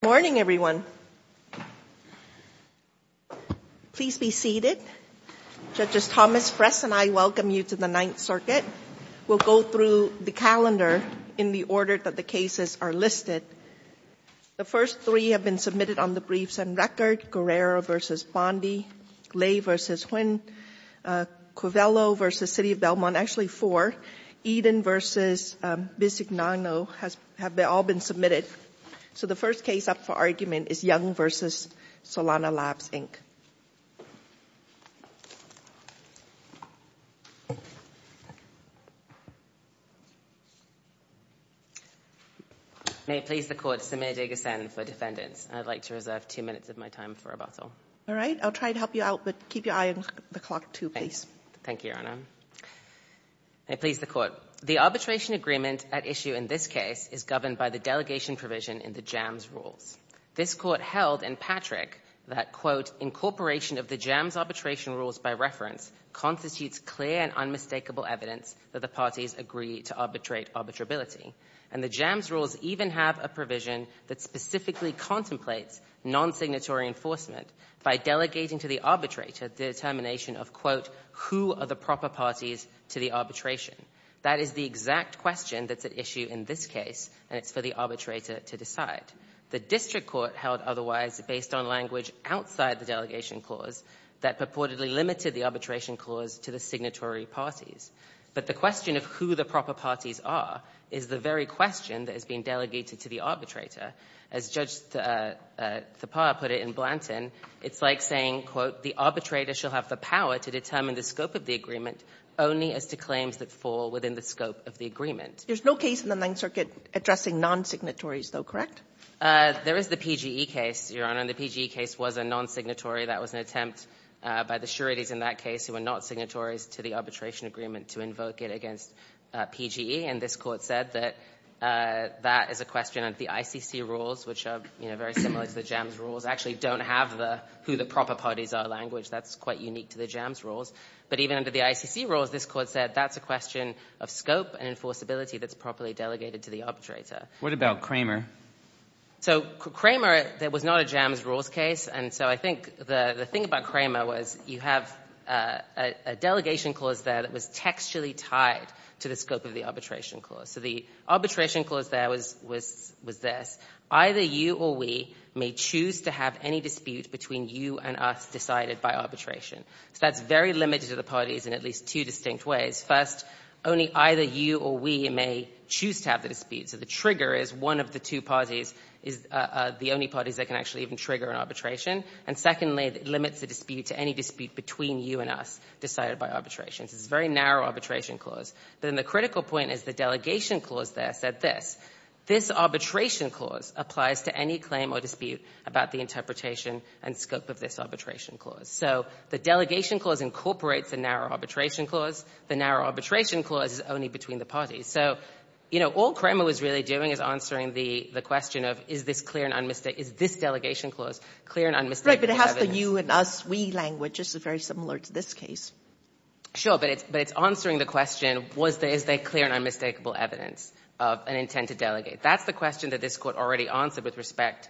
Good morning, everyone. Please be seated. Judges Thomas, Fress, and I welcome you to the Ninth Circuit. We'll go through the calendar in the order that the cases are listed. The first three have been submitted on the briefs and record. Guerrero v. Bondi, Ley v. Huynh, Covello v. City of Belmont, actually four. Eden v. Bisignano have all been submitted. So the first case up for argument is Young v. Solana Labs, Inc. May it please the Court, Samir Deghasan for defendants. I'd like to reserve two minutes of my time for rebuttal. All right. I'll try to help you out, but keep your eye on the clock, too, please. Thank you, Your Honor. May it please the Court, the arbitration agreement at issue in this case is governed by the delegation provision in the JAMS rules. This Court held in Patrick that, quote, incorporation of the JAMS arbitration rules by reference constitutes clear and unmistakable evidence that the parties agree to arbitrate arbitrability. And the JAMS rules even have a provision that specifically contemplates non-signatory enforcement by delegating to the arbitrator the determination of, quote, who are the proper parties to the arbitration. That is the exact question that's at issue in this case, and it's for the arbitrator to decide. The district court held otherwise based on language outside the delegation clause that purportedly limited the arbitration clause to the signatory parties. But the question of who the proper parties are is the very question that has been delegated to the arbitrator. As Judge Thapar put it in Blanton, it's like saying, quote, the arbitrator shall have the power to determine the scope of the agreement only as to claims that fall within the scope of the agreement. There's no case in the Ninth Circuit addressing non-signatories, though, correct? There is the PGE case, Your Honor, and the PGE case was a non-signatory. That was an attempt by the sureties in that case who were not signatories to the arbitration agreement to invoke it against PGE. And this Court said that that is a question of the ICC rules, which are, you know, very similar to the JAMS rules, actually don't have the who the proper parties are language. That's quite unique to the JAMS rules. But even under the ICC rules, this Court said that's a question of scope and enforceability that's properly delegated to the arbitrator. What about Kramer? So Kramer, that was not a JAMS rules case. And so I think the thing about Kramer was you have a delegation clause there that was textually tied to the scope of the arbitration clause. So the arbitration clause there was this. Either you or we may choose to have any dispute between you and us decided by arbitration. So that's very limited to the parties in at least two distinct ways. First, only either you or we may choose to have the dispute. So the trigger is one of the two parties is the only parties that can actually even trigger an arbitration. And secondly, it limits the dispute to any dispute between you and us decided by arbitration. So it's a very narrow arbitration clause. But then the critical point is the delegation clause there said this. This arbitration clause applies to any claim or dispute about the interpretation and scope of this arbitration clause. So the delegation clause incorporates the narrow arbitration clause. The narrow arbitration clause is only between the parties. So, you know, all Kramer was really doing is answering the question of is this clear and unmistakable, is this delegation clause clear and unmistakable Right, but it has the you and us, we language. It's very similar to this case. Sure. But it's answering the question, is there clear and unmistakable evidence of an intent to delegate. That's the question that this Court already answered with respect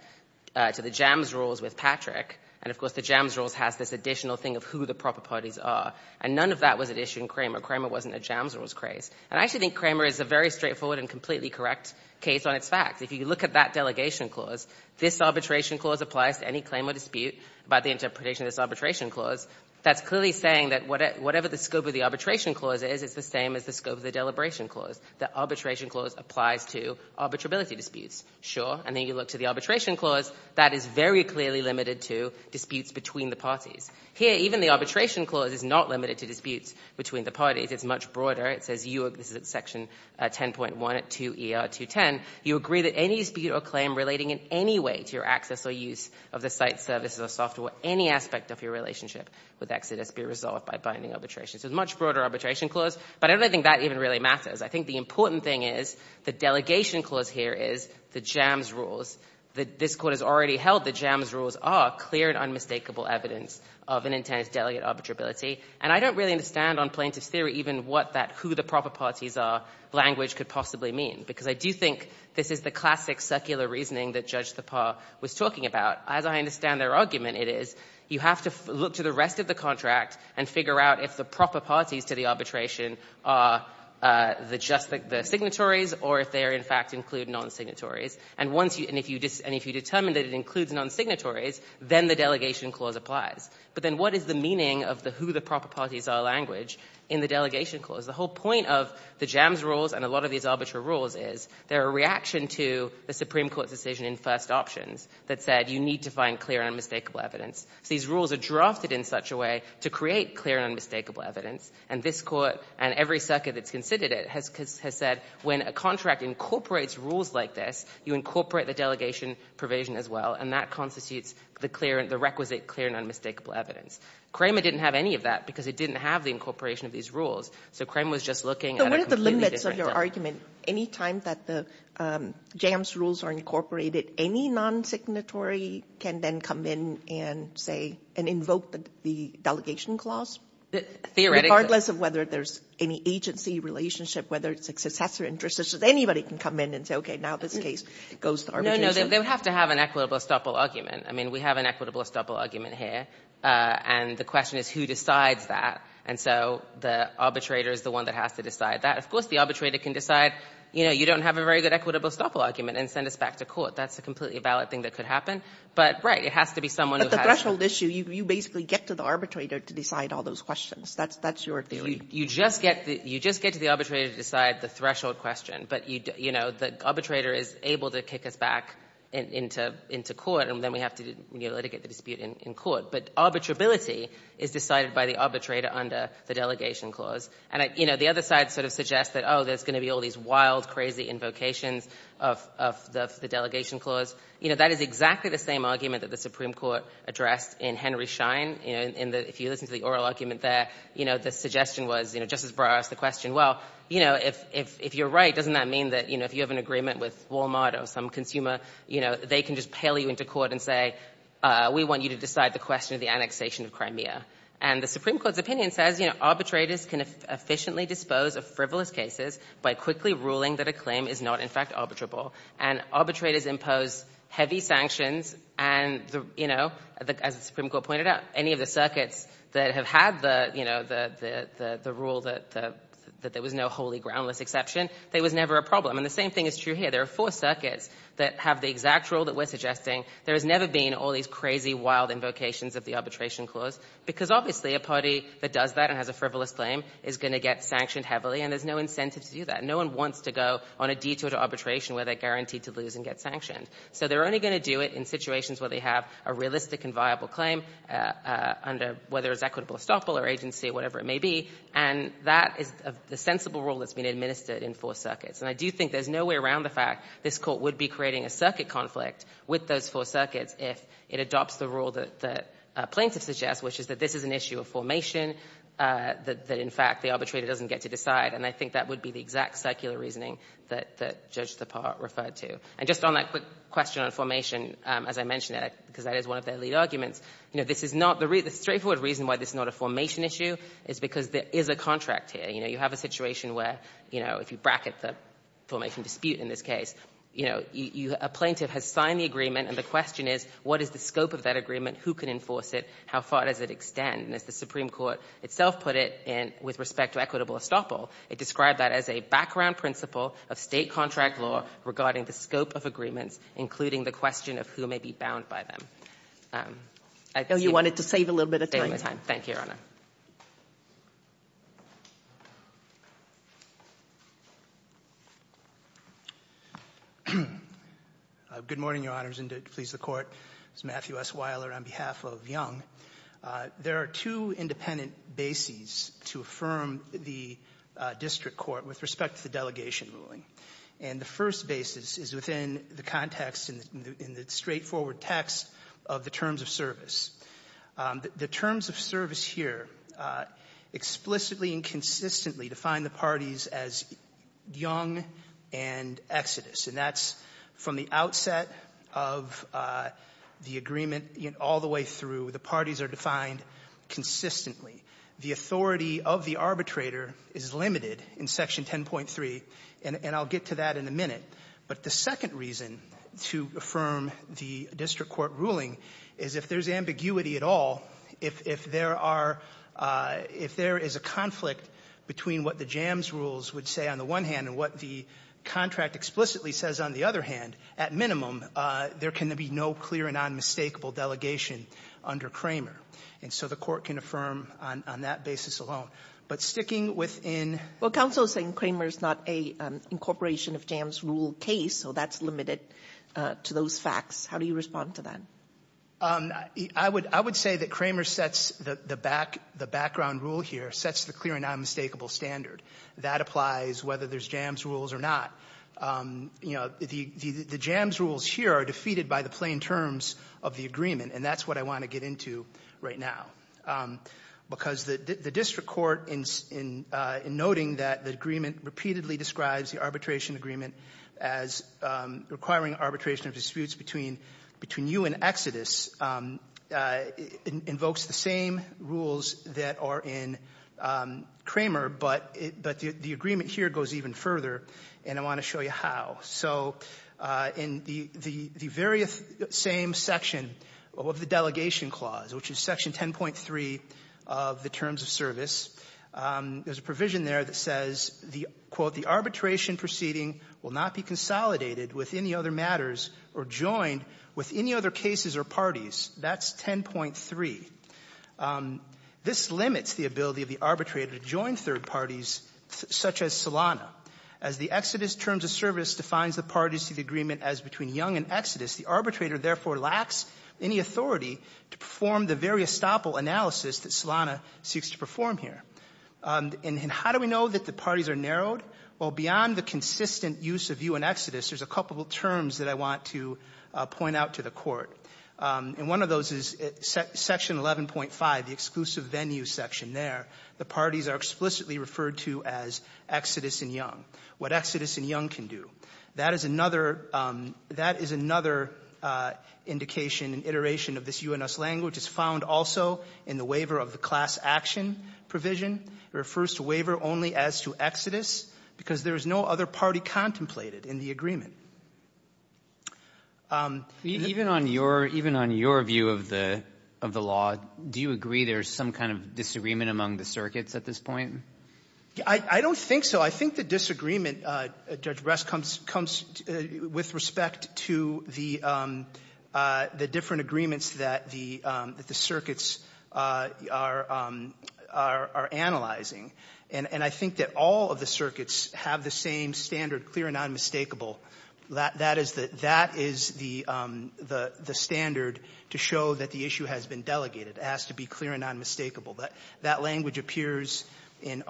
to the JAMS rules with Patrick. And, of course, the JAMS rules has this additional thing of who the proper parties are. And none of that was an issue in Kramer. Kramer wasn't a JAMS rules case. And I actually think Kramer is a very straightforward and completely correct case on its facts. If you look at that delegation clause, this arbitration clause applies to any claim or dispute about the interpretation of this arbitration clause. That's clearly saying that whatever the scope of the arbitration clause is, it's the same as the scope of the deliberation clause. The arbitration clause applies to arbitrability disputes. Sure. And then you look to the arbitration clause. That is very clearly limited to disputes between the parties. Here, even the arbitration clause is not limited to disputes between the parties. It's much broader. It says you, this is at section 10.1 at 2ER210, you agree that any dispute or claim relating in any way to your access or use of the site services or software or any aspect of your relationship with Exodus be resolved by binding arbitration. So it's a much broader arbitration clause. But I don't think that even really matters. I think the important thing is the delegation clause here is the JAMS rules that this Court has already held. The JAMS rules are clear and unmistakable evidence of an intense delegate arbitrability. And I don't really understand on plaintiff's theory even what that who the proper parties are language could possibly mean, because I do think this is the classic secular reasoning that Judge Thapar was talking about. As I understand their argument, it is you have to look to the rest of the contract and figure out if the proper parties to the arbitration are the just the signatories or if they are, in fact, include non-signatories. And if you determine that it includes non-signatories, then the delegation clause applies. But then what is the meaning of the who the proper parties are language in the delegation clause? The whole point of the JAMS rules and a lot of these arbitral rules is they're a reaction to the Supreme Court's decision in first options that said you need to find clear and unmistakable evidence. So these rules are drafted in such a way to create clear and unmistakable evidence. And this Court and every circuit that's considered it has said when a contract incorporates rules like this, you incorporate the delegation provision as well. And that constitutes the clear and the requisite clear and unmistakable evidence. Cramer didn't have any of that, because it didn't have the incorporation of these rules. So Cramer was just looking at a completely different thing. Sotomayor So what are the limits of your argument? Any time that the JAMS rules are incorporated, any non-signatory can then come in and say and invoke the delegation clause? Regardless of whether there's any agency relationship, whether it's a successor interest, anybody can come in and say, okay, now this case goes to arbitration. Newman No, no. They would have to have an equitable estoppel argument. I mean, we have an equitable estoppel argument here. And the question is who decides that. And so the arbitrator is the one that has to decide that. Of course, the arbitrator can decide, you know, you don't have a very good equitable estoppel argument and send us back to court. That's a completely valid thing that could happen. But, right, it has to be someone who has to. Sotomayor But the threshold issue, you basically get to the arbitrator to decide all those questions. That's your theory. Newman You just get to the arbitrator to decide the threshold question. But, you know, the arbitrator is able to kick us back into court, and then we have to litigate the dispute in court. But arbitrability is decided by the arbitrator under the delegation clause. And, you know, the other side sort of suggests that, oh, there's going to be all these wild, crazy invocations of the delegation clause. You know, that is exactly the same argument that the Supreme Court addressed in Henry Schein. You know, if you listen to the oral argument there, you know, the suggestion was, you know, Justice Breyer asked the question, well, you know, if you're right, doesn't that mean that, you know, if you have an agreement with Walmart or some consumer, you know, they can just pail you into court and say, we want you to decide the question of the annexation of Crimea. And the Supreme Court's opinion says, you know, arbitrators can efficiently dispose of frivolous cases by quickly ruling that a claim is not, in fact, arbitrable. And arbitrators impose heavy sanctions, and, you know, as the Supreme Court pointed out, any of the circuits that have had the, you know, the rule that there was no wholly groundless exception, there was never a problem. And the same thing is true here. There are four circuits that have the exact rule that we're suggesting. There has never been all these crazy, wild invocations of the arbitration clause, because obviously a party that does that and has a frivolous claim is going to get sanctioned heavily, and there's no incentive to do that. No one wants to go on a detour to arbitration where they're guaranteed to lose and get sanctioned. So they're only going to do it in situations where they have a realistic and viable claim under whether it's equitable estoppel or agency, whatever it may be. And that is the sensible rule that's been administered in four circuits. And I do think there's no way around the fact this Court would be creating a circuit conflict with those four circuits if it adopts the rule that plaintiffs suggest, which is that this is an issue of formation, that, in fact, the arbitrator doesn't get to decide. And I think that would be the exact circular reasoning that Judge Thapar referred to. And just on that quick question on formation, as I mentioned it, because that is one of their lead arguments, you know, this is not the real — the straightforward reason why this is not a formation issue is because there is a contract here. You know, you have a situation where, you know, if you bracket the formation dispute in this case, you know, a plaintiff has signed the agreement, and the question is, what is the scope of that agreement? Who can enforce it? How far does it extend? And as the Supreme Court itself put it with respect to equitable estoppel, it described that as a background principle of State contract law regarding the scope of agreements, including the question of who may be bound by them. I think — Sotomayor, you wanted to save a little bit of time. Thank you, Your Honor. Good morning, Your Honors. And to please the Court, this is Matthew S. Weiler on behalf of Young. There are two independent bases to affirm the district court with respect to the delegation ruling. And the first basis is within the context in the straightforward text of the terms of service. The terms of service here explicitly and consistently define the parties as Young and Exodus. And that's from the outset of the agreement all the way through, the parties are defined consistently. The authority of the arbitrator is limited in Section 10.3, and I'll get to that in a minute. But the second reason to affirm the district court ruling is if there's ambiguity at all, if there are — if there is a conflict between what the JAMS rules would say on the one hand and what the contract explicitly says on the other hand, at minimum, there can be no clear and unmistakable delegation under Kramer. And so the Court can affirm on that basis alone. But sticking within — Well, counsel is saying Kramer is not an incorporation of JAMS rule case, so that's limited to those facts. How do you respond to that? I would say that Kramer sets the background rule here, sets the clear and unmistakable standard. That applies whether there's JAMS rules or not. You know, the JAMS rules here are defeated by the plain terms of the agreement, and that's what I want to get into right now. Because the district court, in noting that the agreement repeatedly describes the arbitration agreement as requiring arbitration of disputes between you and Exodus, invokes the same rules that are in Kramer, but the agreement here goes even further. And I want to show you how. So in the very same section of the delegation clause, which is section 10.3 of the terms of service, there's a provision there that says, quote, the arbitration proceeding will not be consolidated with any other matters or joined with any other cases or parties. That's 10.3. This limits the ability of the arbitrator to join third parties such as Solana. As the Exodus terms of service defines the parties to the agreement as between Young and Exodus, the arbitrator therefore lacks any authority to perform the very estoppel analysis that Solana seeks to perform here. And how do we know that the parties are narrowed? Well, beyond the consistent use of you and Exodus, there's a couple of terms that I want to point out to the Court. And one of those is section 11.5, the exclusive venue section there. The parties are explicitly referred to as Exodus and Young. What Exodus and Young can do. That is another indication and iteration of this U.N.S. language. It's found also in the waiver of the class action provision. It refers to waiver only as to Exodus because there is no other party contemplated in the agreement. Even on your view of the law, do you agree there's some kind of disagreement among the circuits at this point? I don't think so. I think the disagreement, Judge Rest, comes with respect to the different agreements that the circuits are analyzing. And I think that all of the circuits have the same standard, clear and unmistakable, that is the standard to show that the issue has been delegated. It has to be clear and unmistakable. That language appears in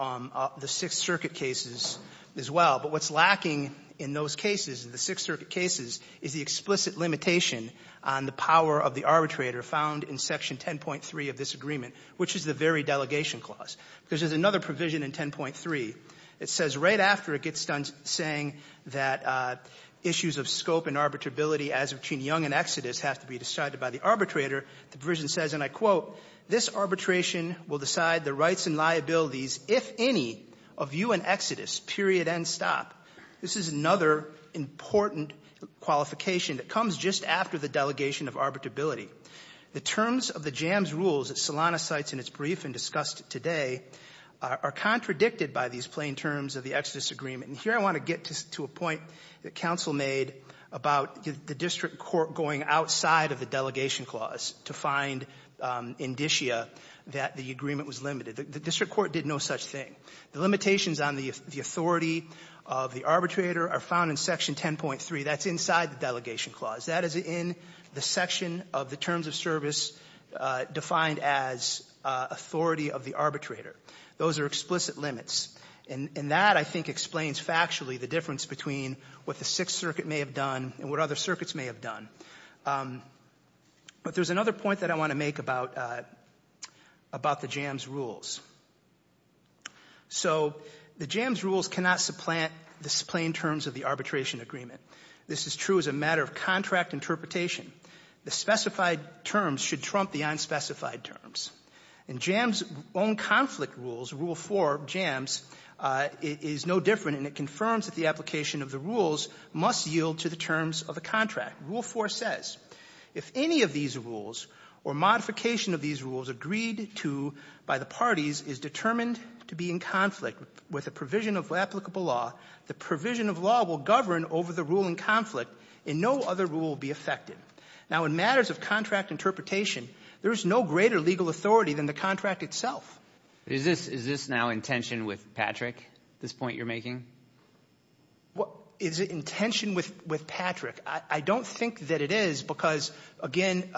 the Sixth Circuit cases as well. But what's lacking in those cases, in the Sixth Circuit cases, is the explicit limitation on the power of the arbitrator found in section 10.3 of this agreement, which is the very delegation clause. There's another provision in 10.3. It says right after it gets done saying that issues of scope and arbitrability as between Young and Exodus have to be decided by the arbitrator, the provision says, and I quote, This arbitration will decide the rights and liabilities, if any, of you and Exodus, period, end, stop. This is another important qualification that comes just after the delegation of arbitrability. The terms of the jams rules that Solano cites in its brief and discussed today are contradicted by these plain terms of the Exodus agreement. And here I want to get to a point that counsel made about the district court going outside of the delegation clause to find indicia that the agreement was limited. The district court did no such thing. The limitations on the authority of the arbitrator are found in section 10.3. That's inside the delegation clause. That is in the section of the terms of service defined as authority of the arbitrator. Those are explicit limits. And that, I think, explains factually the difference between what the Sixth Circuit may have done and what other circuits may have done. But there's another point that I want to make about the jams rules. So the jams rules cannot supplant the plain terms of the arbitration agreement. This is true as a matter of contract interpretation. The specified terms should trump the unspecified terms. And jams' own conflict rules, Rule 4 of jams, is no different, and it confirms that the application of the rules must yield to the terms of a contract. Rule 4 says, if any of these rules or modification of these rules agreed to by the parties is determined to be in conflict with a provision of applicable law, the provision of law will govern over the ruling conflict and no other rule will be affected. Now, in matters of contract interpretation, there is no greater legal authority than the contract itself. Is this now in tension with Patrick, this point you're making? Is it in tension with Patrick? I don't think that it is because, again,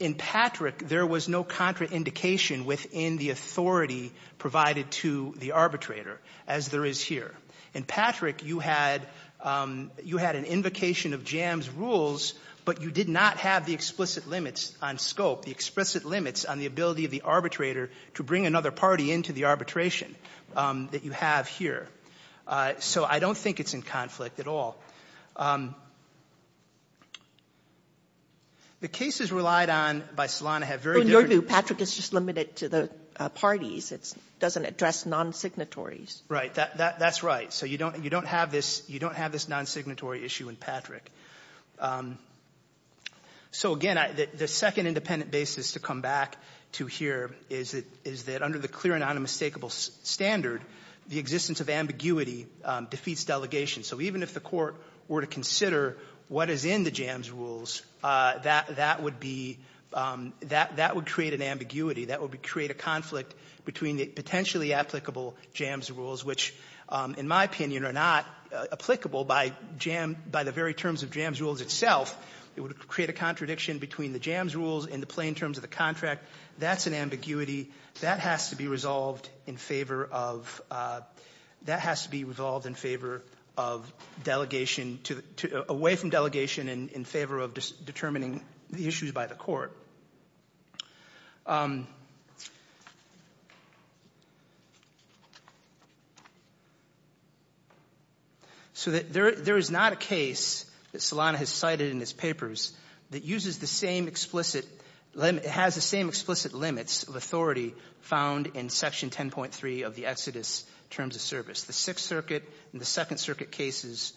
in Patrick, there was no contraindication within the authority provided to the arbitrator, as there is here. In Patrick, you had an invocation of jams rules, but you did not have the explicit limits on scope, the explicit limits on the ability of the arbitrator to bring another party into the arbitration that you have here. So I don't think it's in conflict at all. The cases relied on by Solano have very different --- When you're new, Patrick is just limited to the parties. It doesn't address non-signatories. Right. That's right. So you don't have this non-signatory issue in Patrick. So, again, the second independent basis to come back to here is that under the clear and unmistakable standard, the existence of ambiguity defeats delegation. So even if the Court were to consider what is in the jams rules, that would be – that would create an ambiguity. That would create a conflict between the potentially applicable jams rules, which, in my opinion, are not applicable by jam – by the very terms of jams rules itself. It would create a contradiction between the jams rules and the plain terms of the contract. That's an ambiguity. That has to be resolved in favor of – that has to be resolved in favor of delegation to – away from delegation in favor of determining the issues by the Court. So there is not a case that Solano has cited in his papers that uses the same explicit – has the same explicit limits of authority found in Section 10.3 of the Exodus Terms of Service. The Sixth Circuit and the Second Circuit cases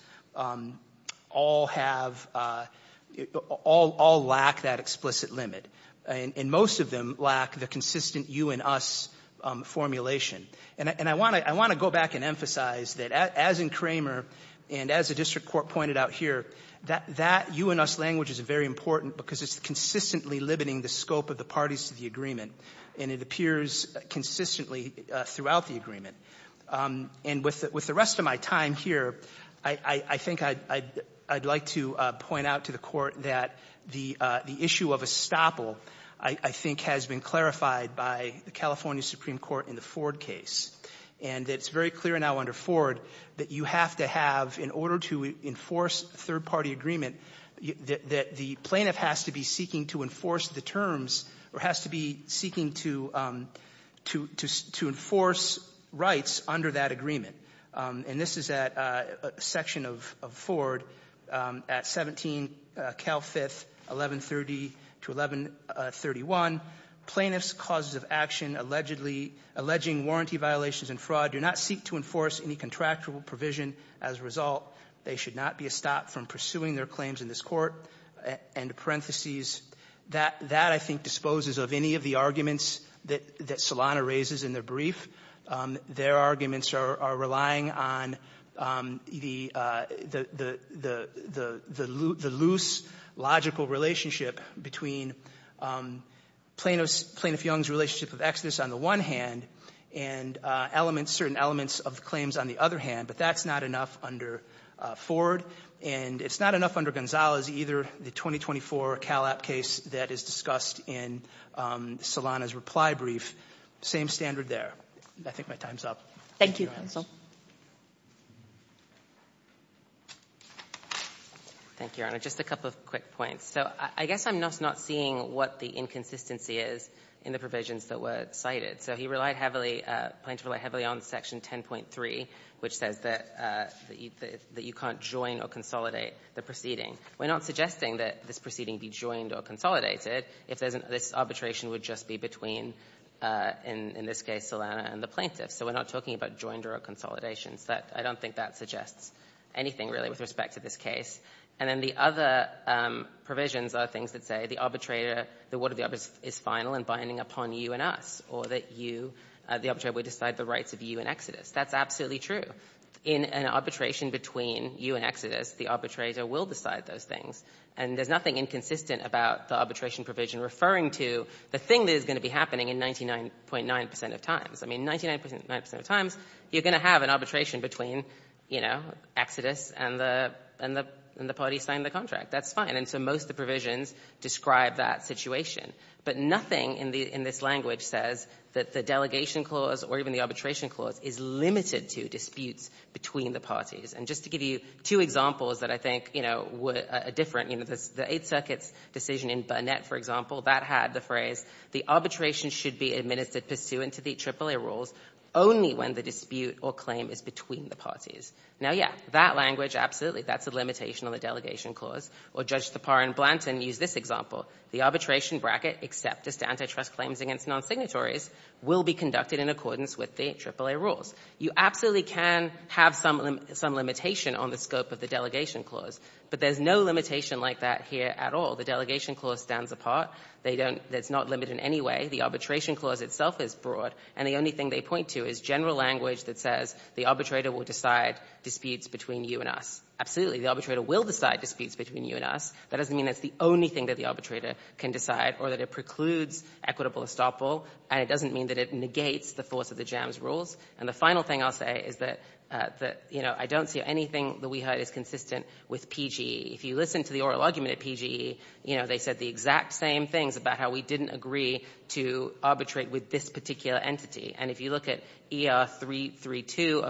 all have – all lack that explicit limit, and most of them lack the consistent you and us formulation. And I want to go back and emphasize that as in Kramer and as the District Court pointed out here, that you and us language is very important because it's consistently limiting the scope of the parties to the agreement, and it appears consistently throughout the agreement. And with the rest of my time here, I think I'd like to point out to the Court that the issue of estoppel, I think, has been clarified by the California Supreme Court in the Ford case, and it's very clear now under Ford that you have to have, in order to enforce third-party agreement, that the plaintiff has to be seeking to enforce the terms or has to be seeking to enforce rights under that agreement. And this is at a section of Ford at 17 Cal 5th, 1130 to 1131. Plaintiffs' causes of action allegedly – alleging warranty violations and fraud do not seek to enforce any contractual provision. As a result, they should not be estopped from pursuing their claims in this court and in parentheses. That, I think, disposes of any of the arguments that Solano raises in the brief. Their arguments are relying on the loose logical relationship between Plaintiff Young's relationship with Exodus on the one hand and elements, certain elements of the claims on the other hand. But that's not enough under Ford. And it's not enough under Gonzalez either, the 2024 Cal App case that is discussed in Solano's reply brief. Same standard there. I think my time's up. Thank you, counsel. Thank you, Your Honor. Just a couple of quick points. So I guess I'm just not seeing what the inconsistency is in the provisions that were cited. So he relied heavily, plaintiff relied heavily on section 10.3, which says that you can't join or consolidate the proceeding. We're not suggesting that this proceeding be joined or consolidated if this arbitration would just be between, in this case, Solano and the plaintiff. So we're not talking about joined or consolidations. I don't think that suggests anything, really, with respect to this case. And then the other provisions are things that say the arbitrator, the word of the arbitrator is final and binding upon you and us, or that you, the arbitrator would decide the rights of you and Exodus. That's absolutely true. In an arbitration between you and Exodus, the arbitrator will decide those things. And there's nothing inconsistent about the arbitration provision referring to the thing that is going to be happening in 99.9 percent of times. I mean, 99.9 percent of times, you're going to have an arbitration between, you know, Exodus and the party signing the contract. That's fine. And so most of the provisions describe that situation. But nothing in this language says that the delegation clause or even the arbitration clause is limited to disputes between the parties. And just to give you two examples that I think, you know, were different, you know, the Eighth Circuit's decision in Burnett, for example, that had the phrase, the arbitration should be administered pursuant to the AAA rules only when the dispute or claim is between the parties. Now, yeah, that language, absolutely, that's a limitation on the delegation clause. Or Judge Tapar and Blanton used this example. The arbitration bracket except as to antitrust claims against non-signatories will be conducted in accordance with the AAA rules. You absolutely can have some limitation on the scope of the delegation clause. But there's no limitation like that here at all. The delegation clause stands apart. They don't – it's not limited in any way. The arbitration clause itself is broad. And the only thing they point to is general language that says the arbitrator will decide disputes between you and us. Absolutely, the arbitrator will decide disputes between you and us. That doesn't mean that's the only thing that the arbitrator can decide or that it doesn't mean that it negates the force of the JAMS rules. And the final thing I'll say is that, you know, I don't see anything that we heard is consistent with PGE. If you listen to the oral argument at PGE, you know, they said the exact same things about how we didn't agree to arbitrate with this particular entity. And if you look at ER332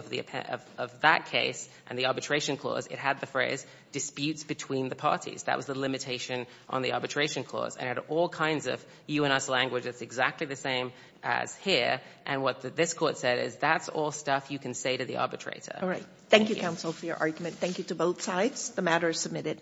of that case and the arbitration clause, it had the phrase disputes between the parties. That was the limitation on the arbitration clause. And it had all kinds of you-and-us language that's exactly the same as here. And what this Court said is that's all stuff you can say to the arbitrator. All right. Thank you, counsel, for your argument. Thank you to both sides. The matter is submitted.